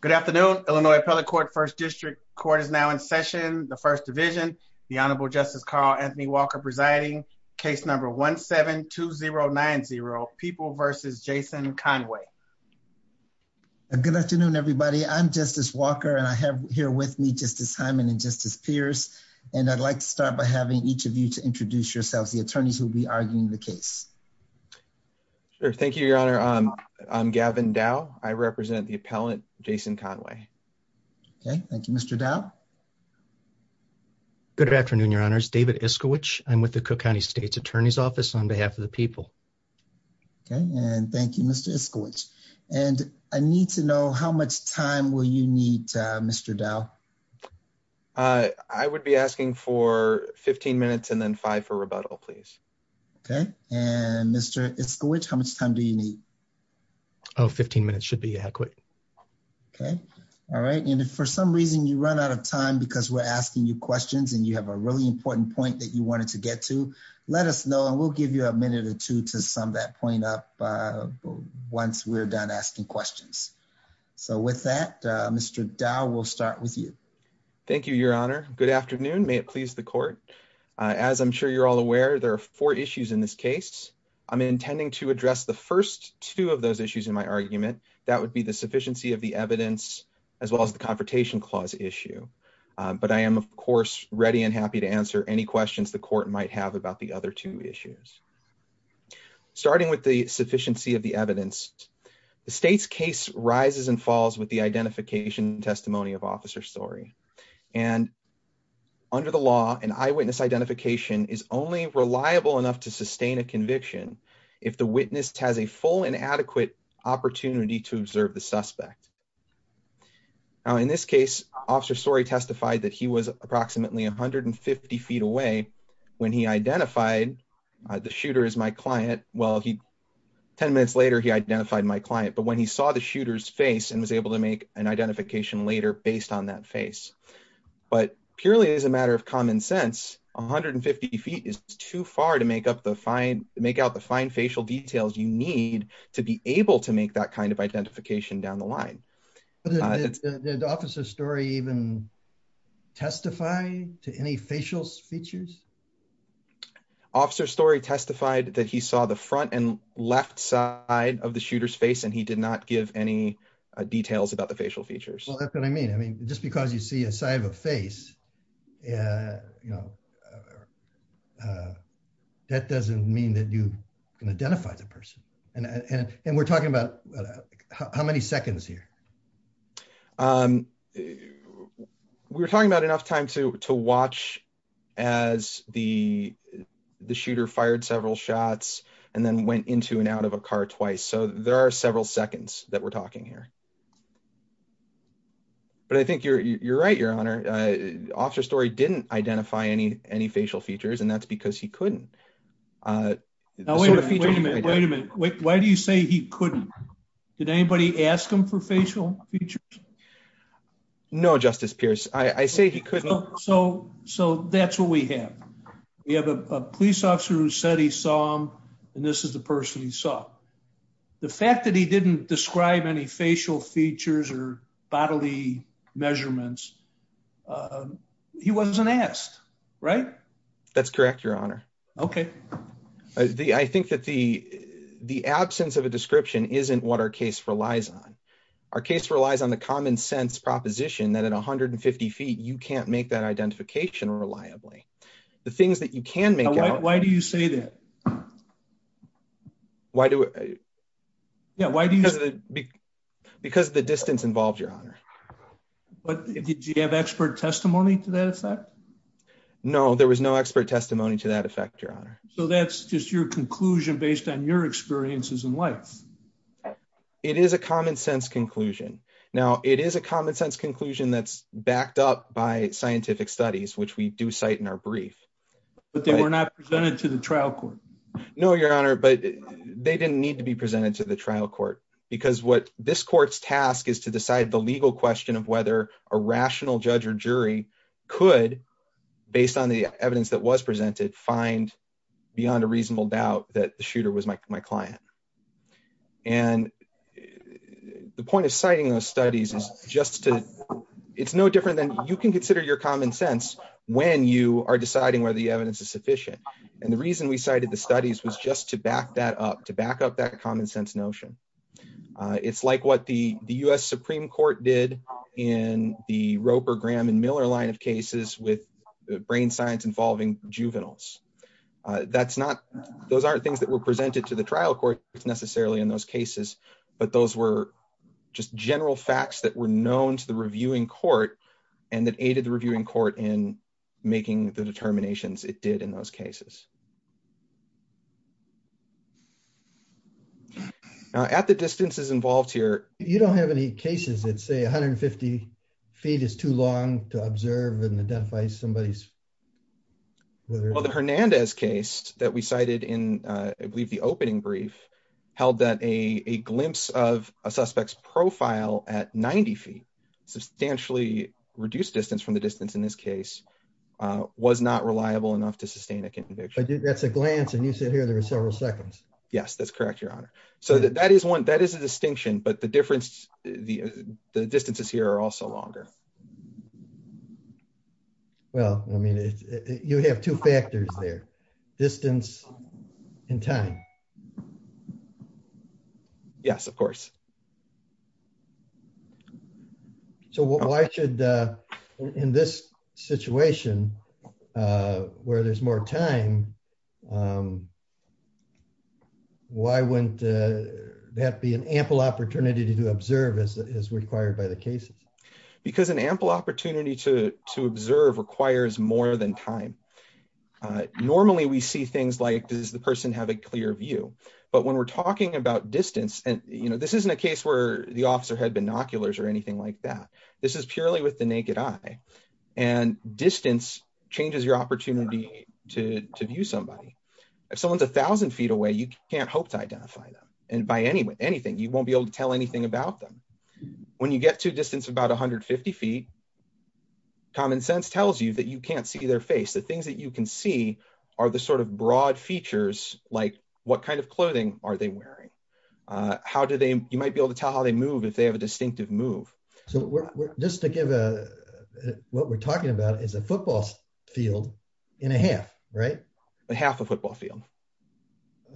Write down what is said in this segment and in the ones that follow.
Good afternoon. Illinois Appellate Court First District Court is now in session. The First Division, the Honorable Justice Carl Anthony Walker presiding, case number 17-2090, People v. Jason Conway. Good afternoon, everybody. I'm Justice Walker, and I have here with me Justice Hyman and Justice Pierce, and I'd like to start by having each of you to introduce yourselves, the attorneys who'll be arguing the case. Sure. Thank you, Your Honor. I'm Gavin Dowe. I represent the Appellate Jason Conway. Okay. Thank you, Mr. Dowe. Good afternoon, Your Honors. David Iskowich. I'm with the Cook County State's Attorney's Office on behalf of the people. Okay. And thank you, Mr. Iskowich. And I need to know how much time will you need, Mr. Dowe? I would be asking for 15 minutes and then five for rebuttal, please. Okay. And Mr. Iskowich, how much time do you need? Oh, 15 minutes should be adequate. Okay. All right. And if for some reason you run out of time because we're asking you questions and you have a really important point that you wanted to get to, let us know, and we'll give you a minute or two to sum that point up once we're done asking questions. So with that, Mr. Dowe, we'll start with you. Thank you, Your Honor. Good afternoon. May it please the court. As I'm sure you're all aware, there are four issues in this case. I'm intending to address the first two of those issues in my argument. That would be the sufficiency of the evidence as well as the Confrontation Clause issue. But I am, of course, ready and happy to answer any questions the court might have about the other two issues. Starting with the sufficiency of the evidence, the state's case rises and falls with the identification and testimony of officer story. And under the law, an eyewitness identification is only reliable enough to witness has a full and adequate opportunity to observe the suspect. Now, in this case, officer story testified that he was approximately 150 feet away when he identified the shooter as my client. Well, he 10 minutes later, he identified my client, but when he saw the shooter's face and was able to make an identification later based on that face, but purely as a matter of common sense, 150 feet is too far to make up the fine make out the fine facial details you need to be able to make that kind of identification down the line. The officer story even testify to any facial features. Officer story testified that he saw the front and left side of the shooter's face, and he did not give any details about the facial features. Well, that's what I mean. I mean, just because you see a side of a face, that doesn't mean that you can identify the person. And we're talking about how many seconds here. We're talking about enough time to watch as the shooter fired several shots and then went into and out of a car twice. So there are several seconds that we're talking here. But I think you're right, Your Honor. Officer story didn't identify any facial features, and that's because he couldn't. Wait a minute. Wait a minute. Why do you say he couldn't? Did anybody ask him for facial features? No, Justice Pierce. I say he couldn't. So that's what we have. We have a police officer who said he saw him, and this is the person he saw. The fact that he didn't describe any facial features or bodily measurements, he wasn't asked, right? That's correct, Your Honor. Okay. I think that the absence of a description isn't what our case relies on. Our case relies on the common sense proposition that at 150 feet, you can't make that identification reliably. The things that you can make out... Yeah, why do you... Because the distance involved, Your Honor. But did you have expert testimony to that effect? No, there was no expert testimony to that effect, Your Honor. So that's just your conclusion based on your experiences in life? It is a common sense conclusion. Now, it is a common sense conclusion that's backed up by scientific studies, which we do cite in our brief. But they were not presented to the trial court? No, Your Honor, but they didn't need to be presented to the trial court. Because what this court's task is to decide the legal question of whether a rational judge or jury could, based on the evidence that was presented, find beyond a reasonable doubt that the shooter was my client. And the point of citing those studies is just to... It's no different than... You can consider your common sense when you are deciding whether the evidence is sufficient. And the reason we cited the studies was just to back that up, to back up that common sense notion. It's like what the U.S. Supreme Court did in the Roper, Graham, and Miller line of cases with brain science involving juveniles. That's not... Those aren't things that were presented to the trial court necessarily in those cases, but those were just general facts that were known to the reviewing court and that aided the reviewing court in making the determinations it did in those cases. Now, at the distances involved here... You don't have any cases that say 150 feet is too long to observe and identify somebody's... Well, the Hernandez case that we cited in, I believe, the opening brief held that a glimpse of a suspect's profile at 90 feet, substantially reduced distance from the distance in this case, was not reliable enough to sustain a conviction. That's a glance and you said here there were several seconds. Yes, that's correct, Your Honor. So that is one... That is a distinction, but the difference... The distances here are also longer. Well, I mean, you have two factors there, distance and time. Yes, of course. So why should, in this situation, where there's more time, why wouldn't that be an ample opportunity to observe as required by the cases? Because an ample opportunity to observe requires more than time. Normally, we see things like, does the person have a clear view? But when we're talking about distance, and you know, this isn't a case where the officer had binoculars or anything like that. This is purely with the naked eye. And distance changes your opportunity to view somebody. If someone's 1000 feet away, you can't hope to identify them. And by anything, you won't be able to tell anything about them. When you get to distance about 150 feet, common sense tells you that you can't see their face. The things that you can see are the sort of broad features, like what kind of clothing are they wearing? How do they, you might be able to tell how they move if they have a distinctive move. So we're just to give a, what we're talking about is a football field in a half, right? A half a football field.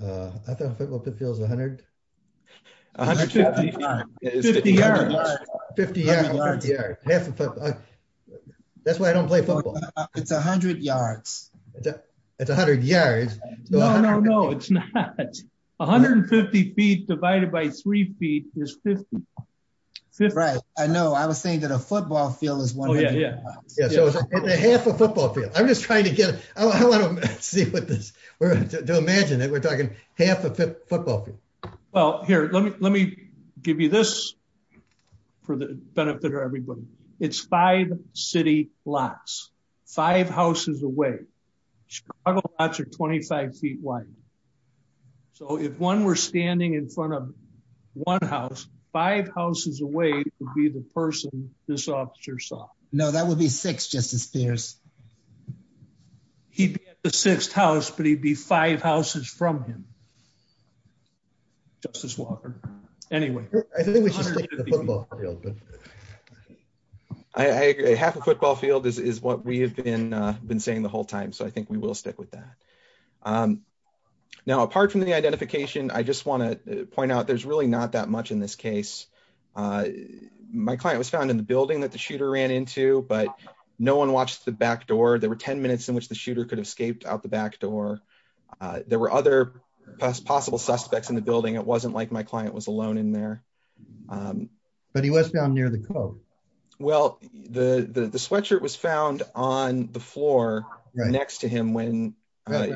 I thought football pit field was 100. 150 yards. 50 yards. That's why I don't play football. It's 100 yards. It's 100 yards. No, no, no, it's not. 150 feet divided by three feet is 50. Right. I know. I was saying that a football field is 100 yards. Oh, yeah. Yeah. So it's a half a football field. I'm just trying to get, I want to see what this, we're going to imagine that we're talking half a football field. Well, here, let me give you this for the benefit of everybody. It's five city lots, five houses away. Chicago lots are 25 feet wide. So if one were standing in front of one house, five houses away would be the person this officer saw. No, that would be six, Justice Pierce. He'd be at the sixth house, but he'd be five houses from him. Justice Walker. Anyway. I think we should stick to the football field. I agree. Half a football field is what we have been saying the whole time. So I think we will stick with that. Now, apart from the identification, I just want to point out there's really not that much in this case. My client was found in the building that the shooter ran into, but no one watched the back door. There were 10 minutes in which the shooter could have escaped out the back door. There were other possible suspects in the building. It wasn't like my client was alone in there. But he was found near the coat. Well, the sweatshirt was found on the floor next to him when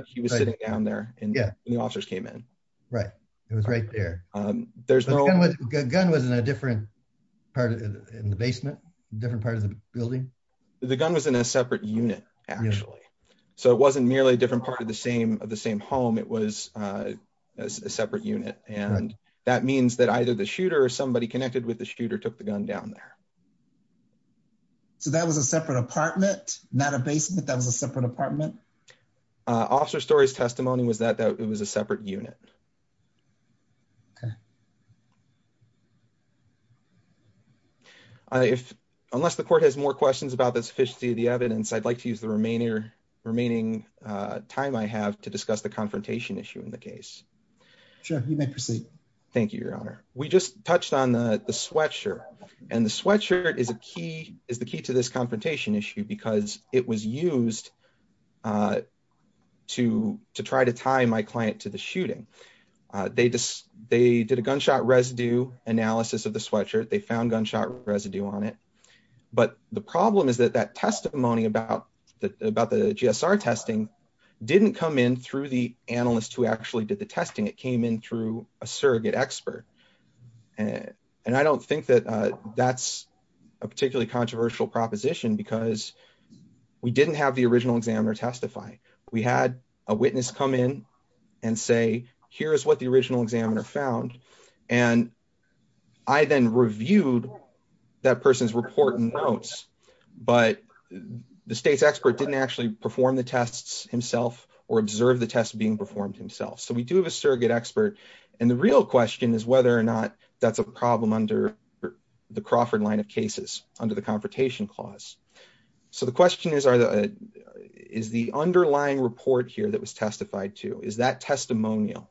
he was sitting down there and the officers came in. Right. It was right there. The gun was in a different part in the basement, different part of the building. The gun was in a separate unit, actually. So it wasn't merely a different part of the same home. It was a separate unit. And that means that either the shooter or somebody connected with the shooter took the gun down there. So that was a separate apartment, not a basement? That was a separate apartment? Officer Story's testimony was that it was a separate unit. Okay. Unless the court has more questions about the sufficiency of the evidence, I'd like to use remaining time I have to discuss the confrontation issue in the case. Sure. You may proceed. Thank you, Your Honor. We just touched on the sweatshirt. And the sweatshirt is the key to this confrontation issue because it was used to try to tie my client to the shooting. They did a gunshot residue analysis of the sweatshirt. They found gunshot residue on it. But the problem is that that testimony about the GSR testing didn't come in through the analyst who actually did the testing. It came in through a surrogate expert. And I don't think that that's a particularly controversial proposition because we didn't have the original examiner testify. We had a witness come in and say, here is what the original examiner found. And I then reviewed that person's report notes. But the state's expert didn't actually perform the tests himself or observe the test being performed himself. So we do have a surrogate expert. And the real question is whether or not that's a problem under the Crawford line of cases under the confrontation clause. So the question is, is the underlying report here that was testified to, is that testimonial?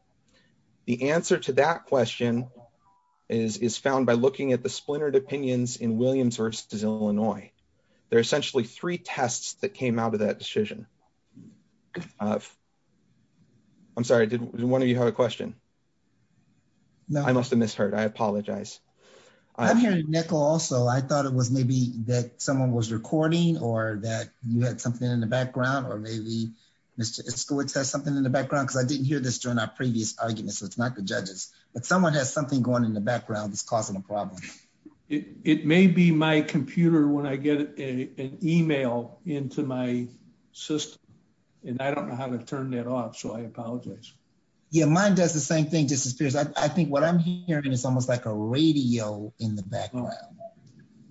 The answer to that question is found by looking at the splintered opinions in Williams versus Illinois. There are essentially three tests that came out of that decision. I'm sorry, did one of you have a question? No, I must have misheard. I apologize. I'm hearing nickel also. I thought it was maybe that someone was recording or that you had something in the background or maybe Mr. Skolick has something in the background because I didn't hear this during our previous argument. So it's not the judges, but someone has something going in the background that's causing a problem. It may be my computer. When I get an email into my system and I don't know how to turn that off. So I apologize. Yeah. Mine does the same thing just as peers. I think what I'm hearing is almost like a radio in the background,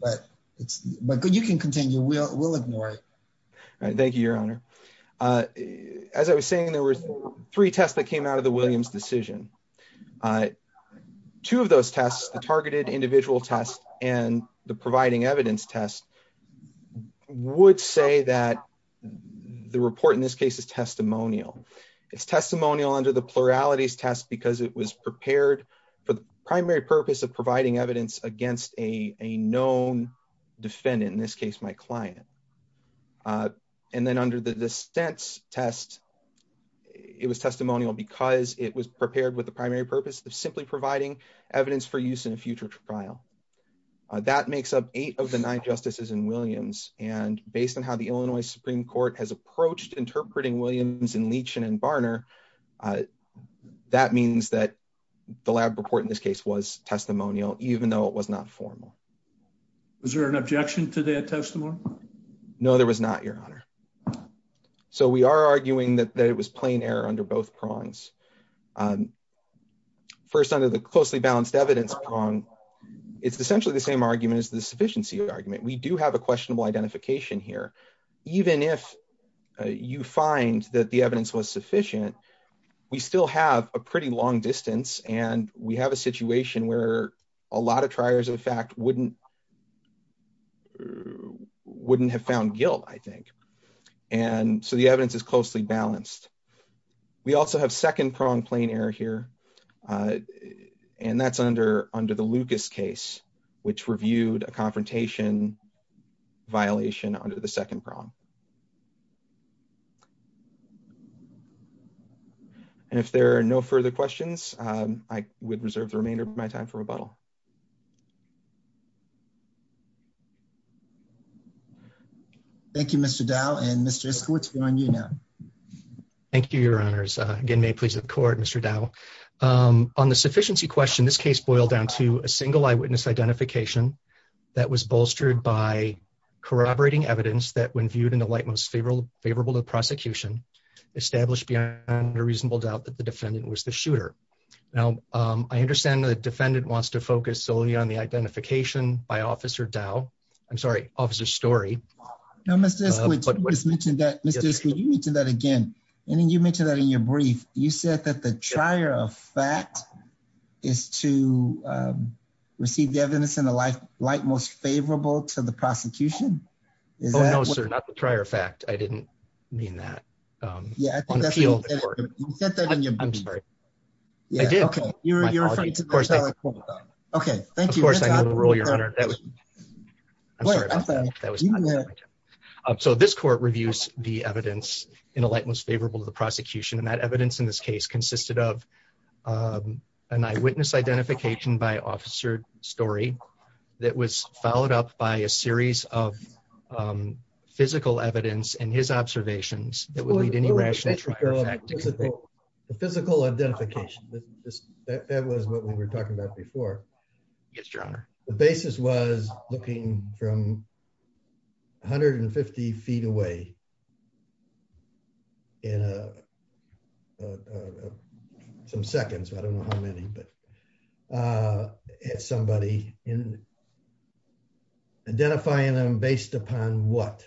but it's, but you can continue. We'll, we'll ignore it. Thank you, your honor. As I was saying, there were three tests that came out of the Williams decision. Two of those tests, the targeted individual test and the providing evidence test would say that the report in this case is testimonial. It's testimonial under the pluralities test because it was prepared for the primary purpose of providing evidence against a and then under the distance test, it was testimonial because it was prepared with the primary purpose of simply providing evidence for use in a future trial. That makes up eight of the nine justices in Williams. And based on how the Illinois Supreme court has approached interpreting Williams and Leach and, and Barner, that means that the lab report in this case was testimonial, even though it was not formal. Was there an objection to that testimony? No, there was not your honor. So we are arguing that that it was plain error under both prongs. First under the closely balanced evidence prong. It's essentially the same argument as the sufficiency argument. We do have a questionable identification here. Even if you find that the evidence was sufficient, we still have a pretty long distance. And we have situation where a lot of triers of the fact wouldn't, wouldn't have found guilt, I think. And so the evidence is closely balanced. We also have second prong plain error here. And that's under under the Lucas case, which reviewed a confrontation violation under the second prong. And if there are no further questions, I would reserve the remainder of my time for rebuttal. Thank you, Mr. Dow and Mr. Eskowitz. Thank you, your honors. Again, may it please the court, Mr. Dow. On the sufficiency question, this case boiled down to a single eyewitness identification that was bolstered by corroborating evidence that when viewed in the same way, favorable to the prosecution, established beyond a reasonable doubt that the defendant was the shooter. Now, I understand the defendant wants to focus solely on the identification by officer Dow. I'm sorry, officer story. No, Mr. Eskowitz, you just mentioned that, Mr. Eskowitz, you mentioned that again. And then you mentioned that in your brief, you said that the trier of fact is to receive the evidence in a light, light, most favorable to the prosecution. Oh, no, sir. Not the trier of fact. I didn't mean that. Yeah, I think you said that in your brief. I'm sorry. I did. Okay, you're referring to the trier of fact. Okay, thank you. Of course, I knew the rule, your honor. So this court reviews the evidence in a light, most favorable to the prosecution. And that evidence in this case consisted of an eyewitness identification by officer story that was followed up by a series of physical evidence and his observations that would lead to any rational trier of fact. The physical identification, that was what we were talking about before. Yes, your honor. The basis was looking from 150 feet away in some seconds, I don't know how many, but a somebody in identifying them based upon what?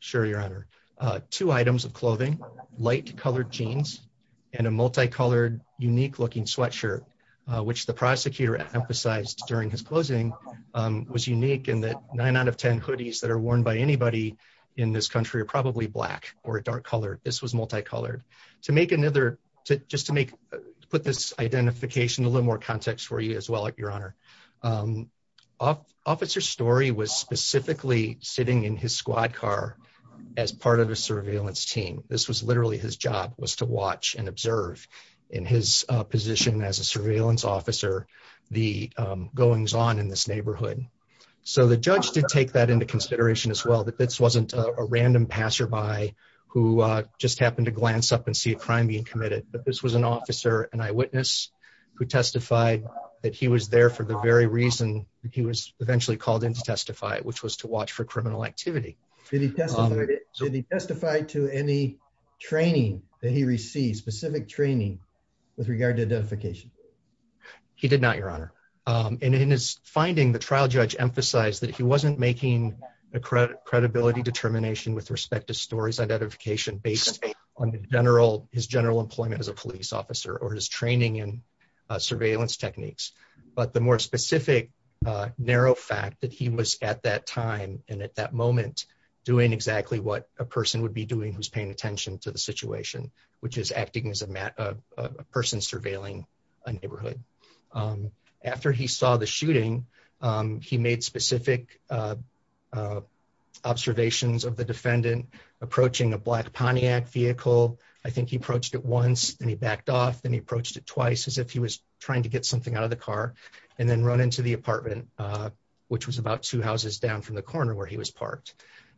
Sure, your honor, two items of clothing, light colored jeans, and a multicolored, unique looking sweatshirt, which the prosecutor emphasized during his closing, was unique in that nine out of 10 hoodies that are worn by anybody in this country are probably black or dark color. This was multicolored. Just to put this identification a little more context for you as well, your honor, officer story was specifically sitting in his squad car as part of a surveillance team. This was literally his job, was to watch and observe in his position as a surveillance officer, the goings on in this neighborhood. So the judge did take that into consideration as well, that this wasn't a random passerby who just happened to glance up and see a crime being committed, but this was an officer and eyewitness who testified that he was there for the very reason that he was eventually called in to testify, which was to watch for criminal activity. Did he testify to any training that he received, specific training with regard to identification? He did not, your honor. In his finding, the trial judge emphasized that he wasn't making a credibility determination with respect to stories identification based on his general employment as a police officer or his training in surveillance techniques. But the more specific narrow fact that he was at that time and at that moment doing exactly what a person would be doing, who's paying attention to the situation, which is acting as a person surveilling a neighborhood. After he saw the shooting, he made specific observations of the defendant approaching a black Pontiac vehicle. I think he approached it once and he backed off. Then he approached it twice as if he was trying to get something out of the car and then run into the apartment, which was about two houses down from the corner where he was parked.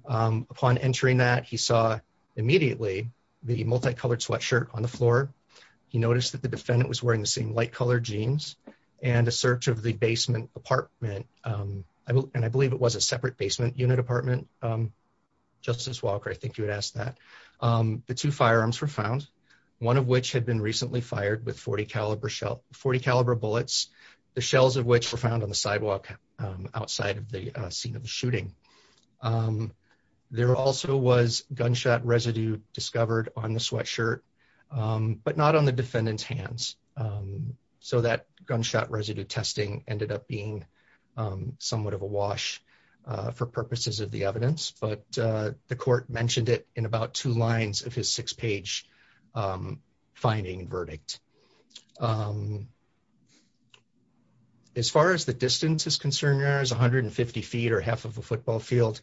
Upon entering that, he saw immediately the multicolored sweatshirt on the floor. He noticed that the defendant was wearing the same light-colored jeans and a search of the basement apartment. And I believe it was a separate basement unit apartment. Justice Walker, I think you had asked that. The two firearms were found, one of which had been recently fired with 40 caliber bullets, the shells of which were found on the sidewalk outside of the scene of the shooting. There also was gunshot residue discovered on the sweatshirt. Not on the defendant's hands. So that gunshot residue testing ended up being somewhat of a wash for purposes of the evidence. But the court mentioned it in about two lines of his six-page finding verdict. As far as the distance is concerned, there is 150 feet or half of a football field.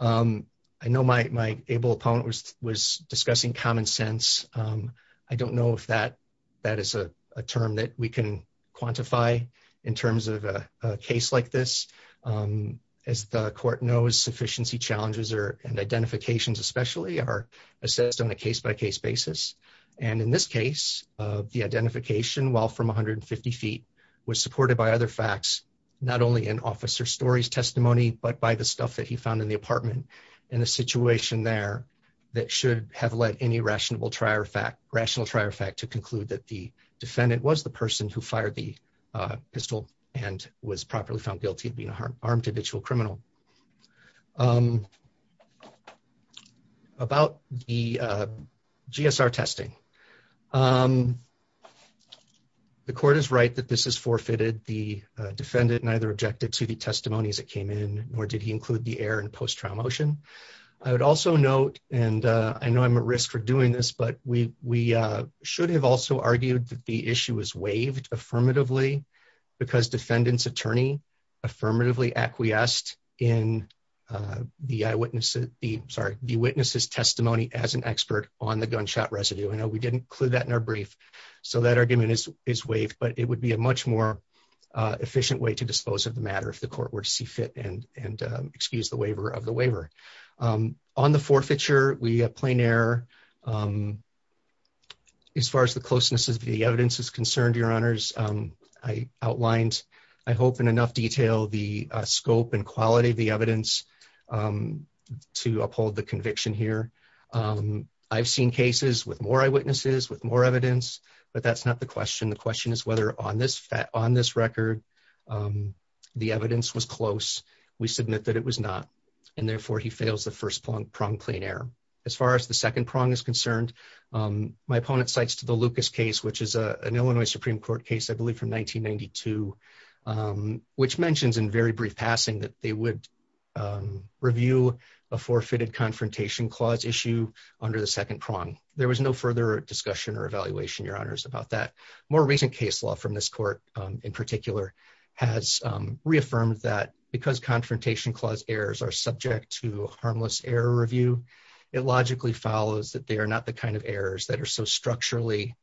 I know my able opponent was discussing common sense. I don't know if that is a term that we can quantify in terms of a case like this. As the court knows, sufficiency challenges and identifications especially are assessed on a case-by-case basis. And in this case, the identification, while from 150 feet, was supported by other facts, not only in Officer Story's testimony, but by the stuff that he found in the apartment in a situation there that should have led any rational trier fact to conclude that the defendant was the person who fired the pistol and was properly found guilty of being an armed individual criminal. About the GSR testing. The court is right that this is forfeited. The defendant neither objected to the testimonies that came in, nor did he include the error in post-trial motion. I would also note, and I know I'm at risk for doing this, but we should have also argued that the issue was waived affirmatively because defendant's attorney affirmatively acquiesced in the eyewitnesses' testimony as an expert on the gunshot residue. I know we didn't include that in our brief, so that argument is waived. But it would be a much more efficient way to dispose of the matter if the court were and excuse the waiver of the waiver. On the forfeiture, we have plain error. As far as the closeness of the evidence is concerned, Your Honors, I outlined, I hope in enough detail, the scope and quality of the evidence to uphold the conviction here. I've seen cases with more eyewitnesses, with more evidence, but that's not the question. The question is whether on this record, the evidence was close. We submit that it was not. And therefore, he fails the first prong, plain error. As far as the second prong is concerned, my opponent cites to the Lucas case, which is an Illinois Supreme Court case, I believe from 1992, which mentions in very brief passing that they would review a forfeited confrontation clause issue under the second prong. There was no further discussion or evaluation, Your Honors, about that. More recent case law from this court in particular has reaffirmed that because confrontation clause errors are subject to harmless error review, it logically follows that they are not the kind of errors that are so structurally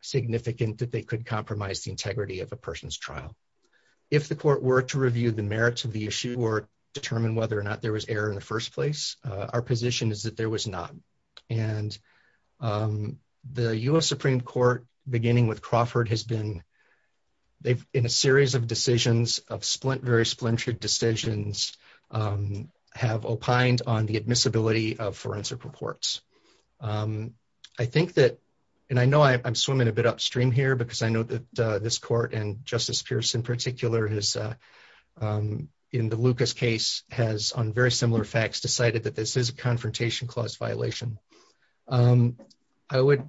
significant that they could compromise the integrity of a person's trial. If the court were to review the merits of the issue or determine whether or not there was error in the first place, our position is that there was not. And the U.S. Supreme Court, beginning with Crawford, has been, in a series of decisions, of splint, very splintered decisions, have opined on the admissibility of forensic reports. I think that, and I know I'm swimming a bit upstream here because I know that this court and Justice Pierce in particular has, in the Lucas case, has, on very similar facts, decided that this is a confrontation clause violation. I would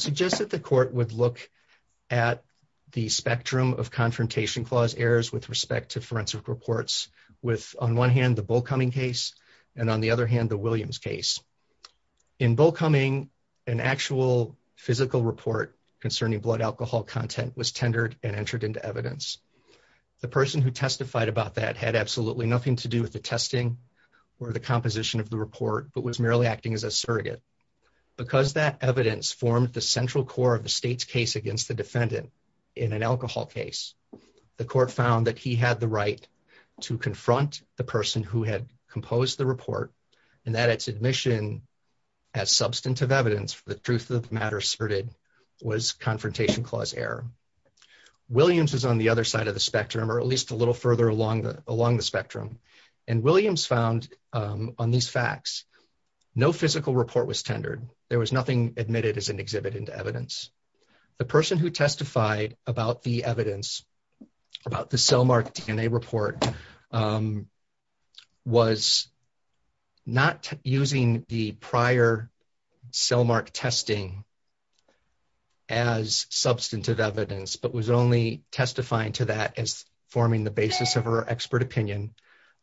suggest that the court would look at the spectrum of confrontation clause errors with respect to forensic reports with, on one hand, the Bullcumming case and, on the other hand, the Williams case. In Bullcumming, an actual physical report concerning blood alcohol content was tendered and entered into evidence. The person who testified about that had absolutely nothing to do with the testing or the composition of the report, but was merely acting as a surrogate. Because that evidence formed the central core of the state's case against the defendant in an alcohol case, the court found that he had the right to confront the person who had composed the report and that its admission as substantive evidence for the truth of the matter asserted was confrontation clause error. Williams is on the other side of the spectrum, or at least a little further along the spectrum, and Williams found on these facts no physical report was tendered. There was nothing admitted as an exhibit into evidence. The person who testified about the evidence, about the cell mark DNA report, was not using the prior cell mark testing as substantive evidence, but was only testifying to that as forming the basis of her expert opinion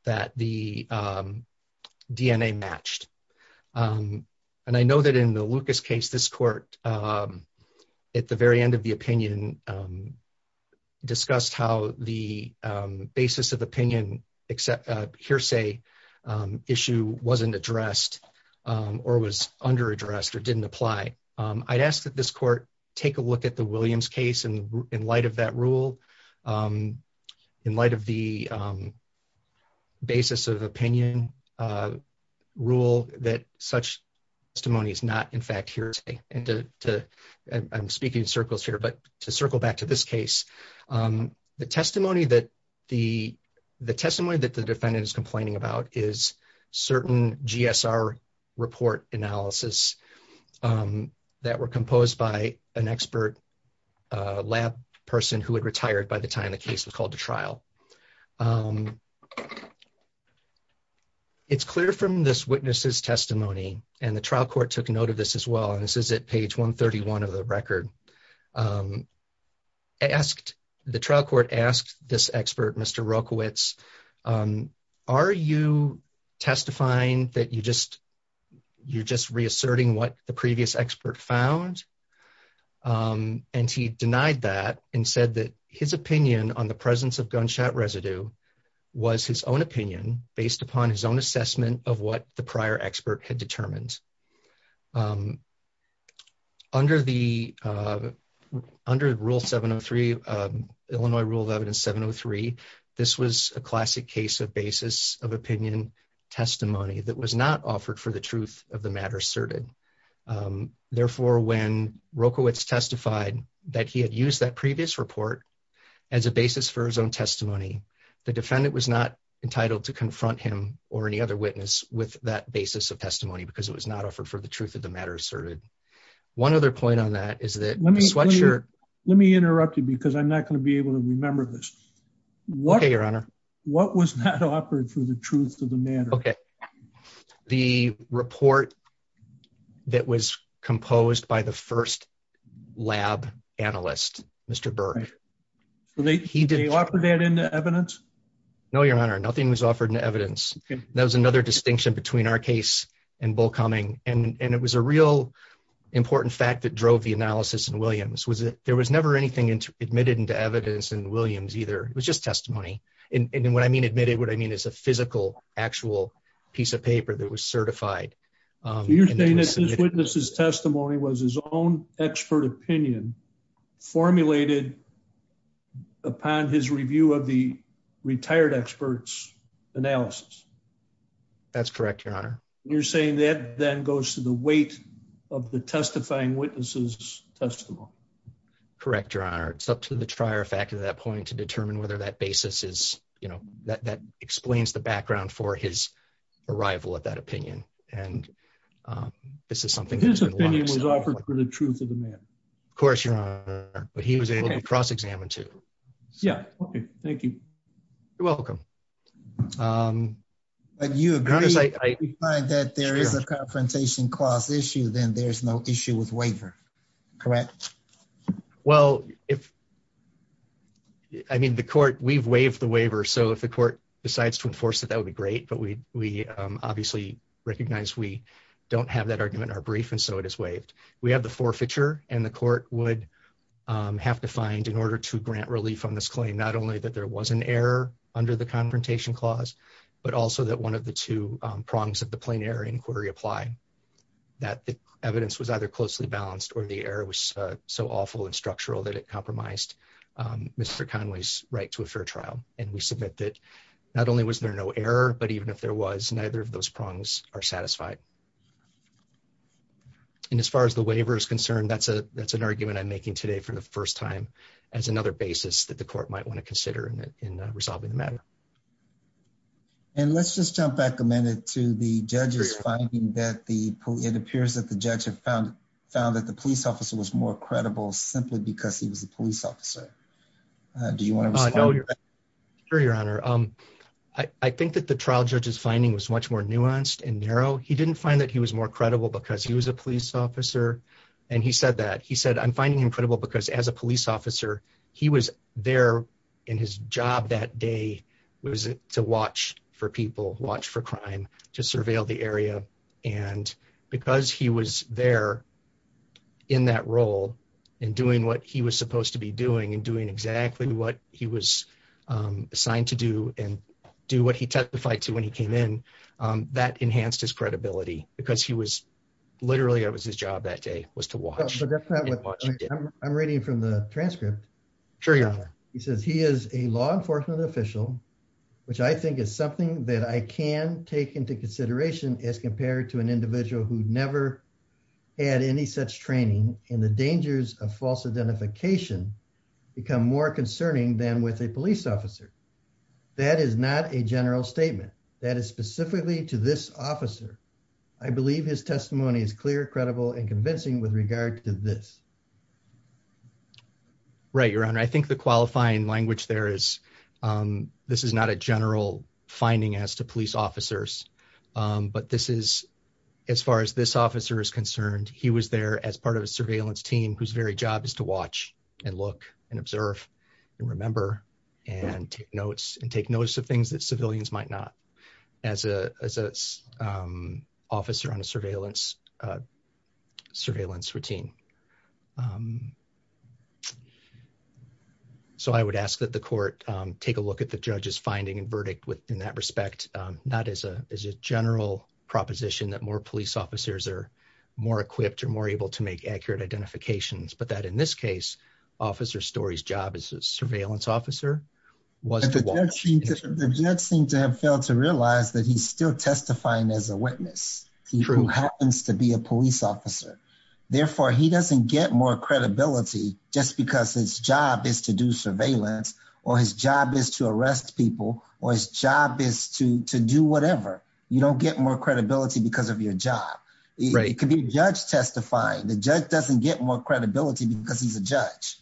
that the DNA matched. And I know that in the Lucas case, this court, at the very end of the opinion, discussed how the basis of opinion hearsay issue wasn't addressed or was under-addressed or didn't apply. I'd ask that this court take a look at the Williams case in light of that rule, in light of the basis of opinion rule that such testimony is not, in fact, hearsay. And I'm speaking in circles here, but to circle back to this case, the testimony that the defendant is complaining about is certain GSR report analysis that were composed by an expert lab person who had retired by the time the case was called to trial. It's clear from this witness's testimony, and the trial court took note of this as well, and this is at page 131 of the record, the trial court asked this expert, Mr. Rokowitz, are you testifying that you're just reasserting what the previous expert found? And he denied that and said that his opinion on the presence of gunshot residue was his own opinion based upon his own assessment of what the prior expert had determined. Under rule 703, Illinois rule of evidence 703, this was a classic case of basis of opinion testimony that was not offered for the truth of the matter asserted. Therefore, when Rokowitz testified that he had used that previous report as a basis for his own testimony, the defendant was not entitled to confront him or any other witness with that basis of testimony, because it was not offered for the truth of the matter asserted. One other point on that is that the sweatshirt... Let me interrupt you because I'm not going to be able to remember this. Okay, your honor. What was not offered for the truth of the matter? Okay. The report that was composed by the first lab analyst, Mr. Burke. So he didn't offer that in the evidence? No, your honor, nothing was offered in the evidence. That was another distinction between our case and Bull Cumming. And it was a real important fact that drove the analysis in Williams, was that there was never anything admitted into evidence in Williams either. It was just testimony. And what I mean admitted, what I mean is a physical, actual piece of paper that was certified. You're saying that this witness's testimony was his own expert opinion formulated upon his review of the retired experts analysis? That's correct, your honor. You're saying that then goes to the weight of the testifying witnesses' testimony? Correct, your honor. It's up to the trier factor at that point to determine whether that basis is, you know, that explains the background for his arrival at that opinion. And this is something... His opinion was offered for the truth of the matter? Of course, your honor. But he was able to cross-examine too. Yeah, okay. Thank you. You're welcome. But you agree that if you find that there is a confrontation clause issue, then there's no issue with waiver, correct? Well, I mean, the court, we've waived the waiver. So if the court decides to enforce it, that would be great. But we obviously recognize we don't have that argument or brief, and so it is waived. We have the forfeiture, and the court would have to find, in order to grant relief on this claim, not only that there was an error under the confrontation clause, but also that one of the two prongs of the plain error inquiry apply, that the evidence was either closely balanced or the error was so awful and structural that it compromised Mr. Conway's right to a fair trial. And we submit that not only was there no error, but even if there was, neither of those prongs are satisfied. And as far as the waiver is concerned, that's an argument I'm making today for the first time as another basis that the court might want to consider in resolving the matter. And let's just jump back a minute to the judge's finding that the, it appears that the judge had found that the police officer was more credible simply because he was a police officer. Do you want to respond? Sure, your honor. I think that the trial judge's much more nuanced and narrow. He didn't find that he was more credible because he was a police officer. And he said that. He said, I'm finding him credible because as a police officer, he was there in his job that day, was it to watch for people, watch for crime, to surveil the area. And because he was there in that role, and doing what he was supposed to be doing, and doing exactly what he was assigned to do and do what he testified to when he came in, that enhanced his credibility because he was literally, it was his job that day was to watch. I'm reading from the transcript. He says he is a law enforcement official, which I think is something that I can take into consideration as compared to an individual who never had any such training and the dangers of false identification become more concerning than with a police officer. That is not a general statement that is specifically to this officer. I believe his testimony is clear, credible, and convincing with regard to this. Right, your honor. I think the qualifying language there is, this is not a general finding as to very job is to watch, and look, and observe, and remember, and take notes of things that civilians might not as an officer on a surveillance routine. I would ask that the court take a look at the judge's finding and verdict in that respect, not as a general proposition that more police but that in this case, Officer Story's job as a surveillance officer was to watch. The judge seemed to have failed to realize that he's still testifying as a witness, who happens to be a police officer. Therefore, he doesn't get more credibility just because his job is to do surveillance, or his job is to arrest people, or his job is to do whatever. You don't get more credibility because of your job. It could be a judge testifying, the judge doesn't get more credibility because he's a judge.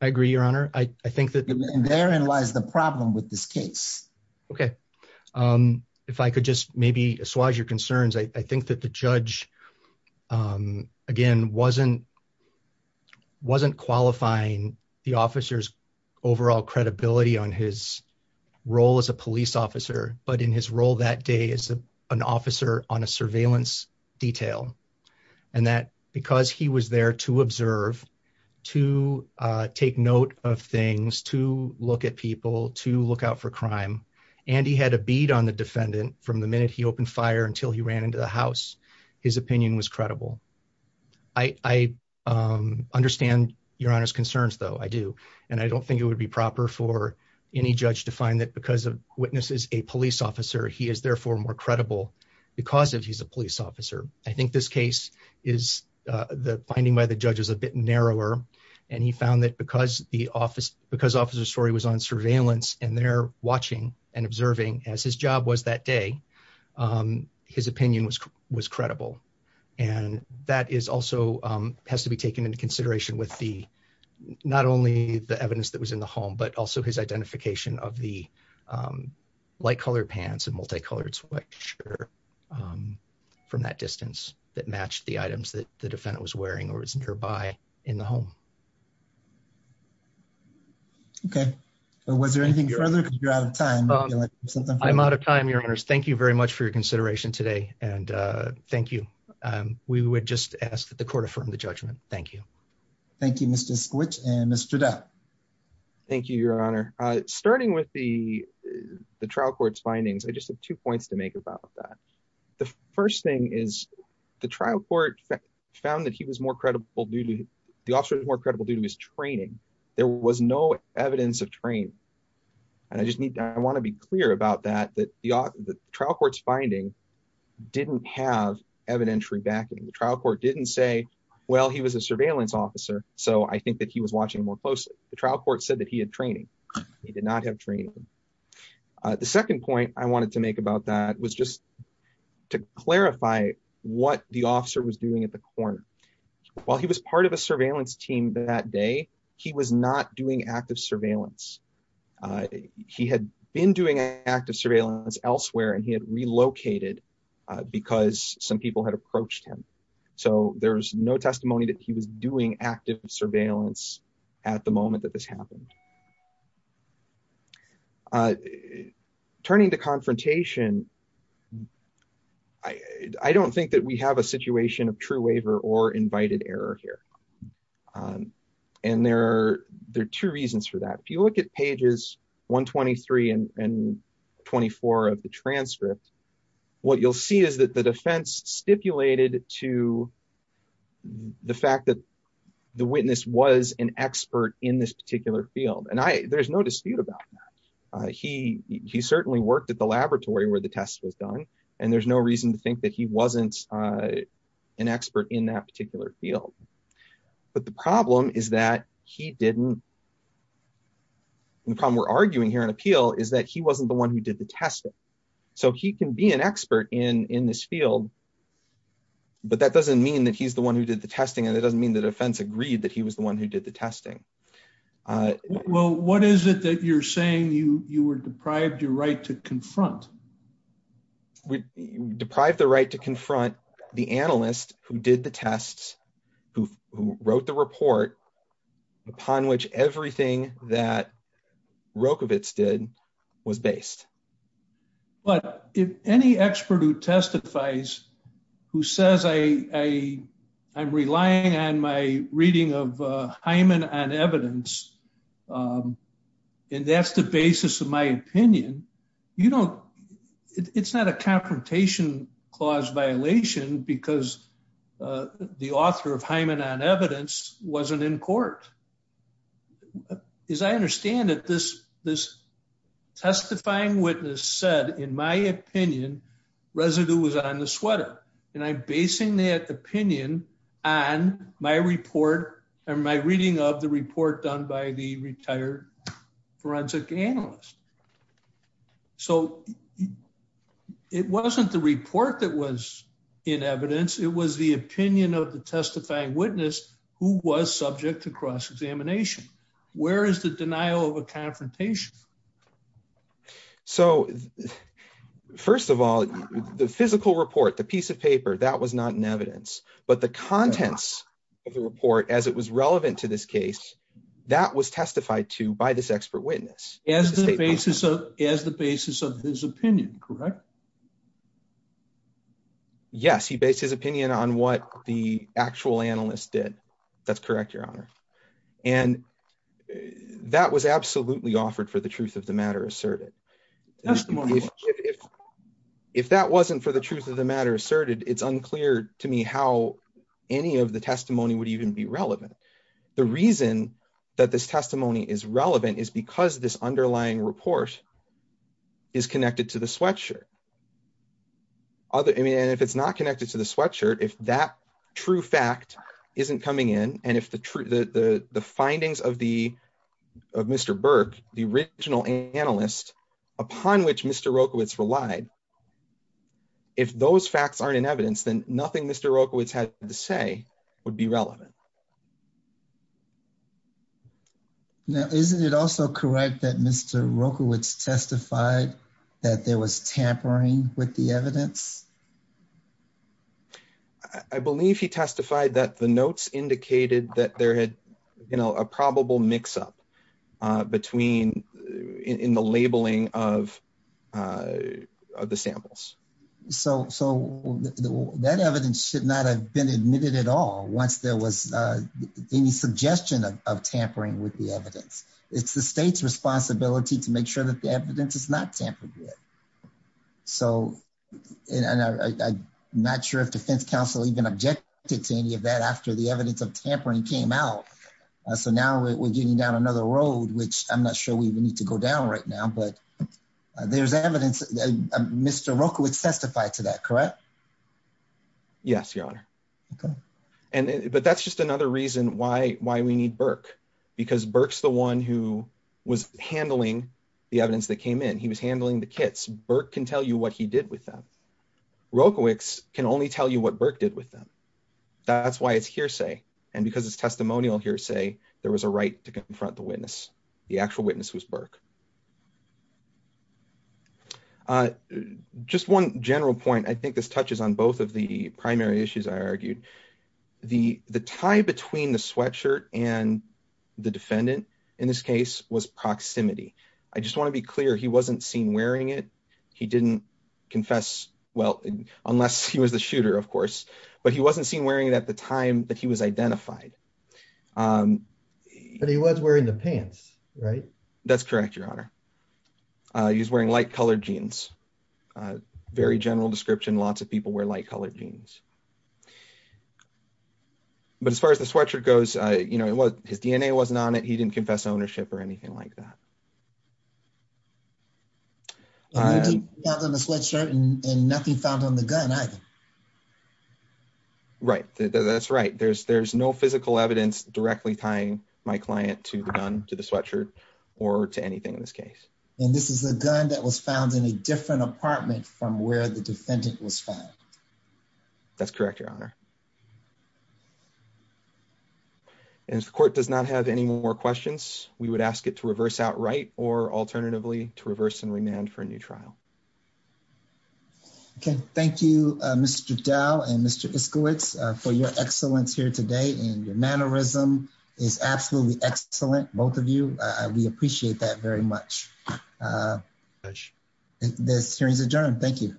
I agree, your honor. I think that therein lies the problem with this case. Okay. If I could just maybe assuage your concerns, I think that the judge, again, wasn't qualifying the officer's overall credibility on his role as a police officer, but in his role that day as an officer on a surveillance detail. And that because he was there to observe, to take note of things, to look at people, to look out for crime, and he had a bead on the defendant from the minute he opened fire until he ran into the house, his opinion was credible. I understand your honor's concerns though, I do. And I don't think it would be proper for any judge to find that because a witness is a police officer, he is therefore more credible because if he's a police officer. I think this case is the finding by the judge is a bit narrower. And he found that because the officer's story was on surveillance, and they're watching and observing as his job was that day, his opinion was credible. And that is has to be taken into consideration with the, not only the evidence that was in the home, but also his identification of the light colored pants and multicolored sweatshirt from that distance that matched the items that the defendant was wearing or was nearby in the home. Okay. Was there anything further? You're out of time. I'm out of time, your honors. Thank you very much for your consideration today. And thank you. We would just ask that the court affirmed the judgment. Thank you. Thank you, Mr. Squidge and Mr. Depp. Thank you, your honor. Starting with the trial court's findings, I just have two points to make about that. The first thing is the trial court found that he was more credible due to the officer was more credible due to his training. There was no evidence of train. And I just need to, I want to be clear about that, that the trial court's finding didn't have evidentiary backing. The trial court didn't say, well, he was a surveillance officer. So I think that he was watching more closely. The trial court said that he had training. He did not have training. The second point I wanted to make about that was just to clarify what the officer was doing at the corner while he was part of a surveillance team that day, he was not doing active surveillance. He had been doing active surveillance elsewhere, and he had relocated because some people had approached him. So there was no testimony that he was doing active surveillance at the moment that this happened. Turning to confrontation. I don't think that we have a situation of true waiver or invited error here. And there are two reasons for that. If you look at pages 123 and 24 of the transcript, what you'll see is that the defense stipulated to the fact that the witness was an expert in this particular field. And there's no dispute about that. He certainly worked at the laboratory where the test was done. And there's no reason to think that he wasn't an expert in that particular field. But the problem is that he didn't. The problem we're arguing here in appeal is that he wasn't the one who did the testing. So he can be an expert in in this field. But that doesn't mean that he's the one who did the testing. And it doesn't mean the defense agreed that he was the one who did the testing. Well, what is it that you're saying you you were deprived your right confront? We deprived the right to confront the analyst who did the tests, who wrote the report, upon which everything that Rokovic did was based. But if any expert who testifies, who says I, I'm relying on my reading of Hyman and evidence. And that's the basis of my opinion. You know, it's not a confrontation clause violation, because the author of Hyman on evidence wasn't in court. As I understand it, this this testifying witness said, in my opinion, residue was on the sweater. And I'm basing that opinion on my report, and my reading of the report done by the retired forensic analyst. So it wasn't the report that was in evidence, it was the opinion of the testifying witness who was subject to cross examination. Where is the denial of a confrontation? So first of all, the physical report, the piece of paper that was not in evidence, but the contents of the report as it was relevant to this case, that was testified to by this expert witness as the basis of as the basis of his opinion, correct? Yes, he based his opinion on what the actual analyst did. That's correct, Your Honor. And that was absolutely offered for the truth of the matter asserted. Testimony. If that wasn't for the truth of the matter asserted, it's unclear to me how any of the testimony would even be relevant. The reason that this testimony is relevant is because this underlying report is connected to the sweatshirt. Other and if it's not connected to the sweatshirt, if that true fact isn't coming in, and if the true the the findings of the of Mr. Burke, the original analyst upon which Mr. Rokowitz relied, if those facts aren't in evidence, then nothing Mr. Rokowitz had to say would be relevant. Now, isn't it also correct that Mr. Rokowitz testified that there was tampering with the evidence? I believe he testified that the notes indicated that there had, you know, a probable mix up between in the labeling of of the samples. So so that evidence should not have been admitted at all once there was any suggestion of tampering with the evidence. It's the state's responsibility to make sure that the evidence is not tampered with. So and I'm not sure if defense counsel even objected to any of that after the evidence of tampering came out. So now we're getting down another road, which I'm not sure we need to go down right now. But there's evidence Mr. Rokowitz testified to that, correct? Yes, your honor. And but that's just another reason why why we need because Burke's the one who was handling the evidence that came in. He was handling the kits. Burke can tell you what he did with them. Rokowitz can only tell you what Burke did with them. That's why it's hearsay. And because it's testimonial hearsay, there was a right to confront the witness. The actual witness was Burke. Just one general point. I think this touches on both of the primary issues I argued. The tie between the sweatshirt and the defendant in this case was proximity. I just want to be clear. He wasn't seen wearing it. He didn't confess. Well, unless he was the shooter, of course, but he wasn't seen wearing it at the time that he was identified. But he was wearing the pants, right? That's correct, your honor. He's wearing light color jeans. But as far as the sweatshirt goes, his DNA wasn't on it. He didn't confess ownership or anything like that. Nothing found on the sweatshirt and nothing found on the gun either. Right. That's right. There's no physical evidence directly tying my client to the gun, to the sweatshirt or to anything in this case. And this is a gun that was found in a different apartment from where the defendant was found. That's correct, your honor. And if the court does not have any more questions, we would ask it to reverse outright or alternatively to reverse and remand for a new trial. Okay. Thank you, Mr. Dow and Mr. Iskowitz for your excellence here today. And your mannerism is absolutely excellent. Both of you. We appreciate that very much. Thank you very much. This hearing is adjourned. Thank you.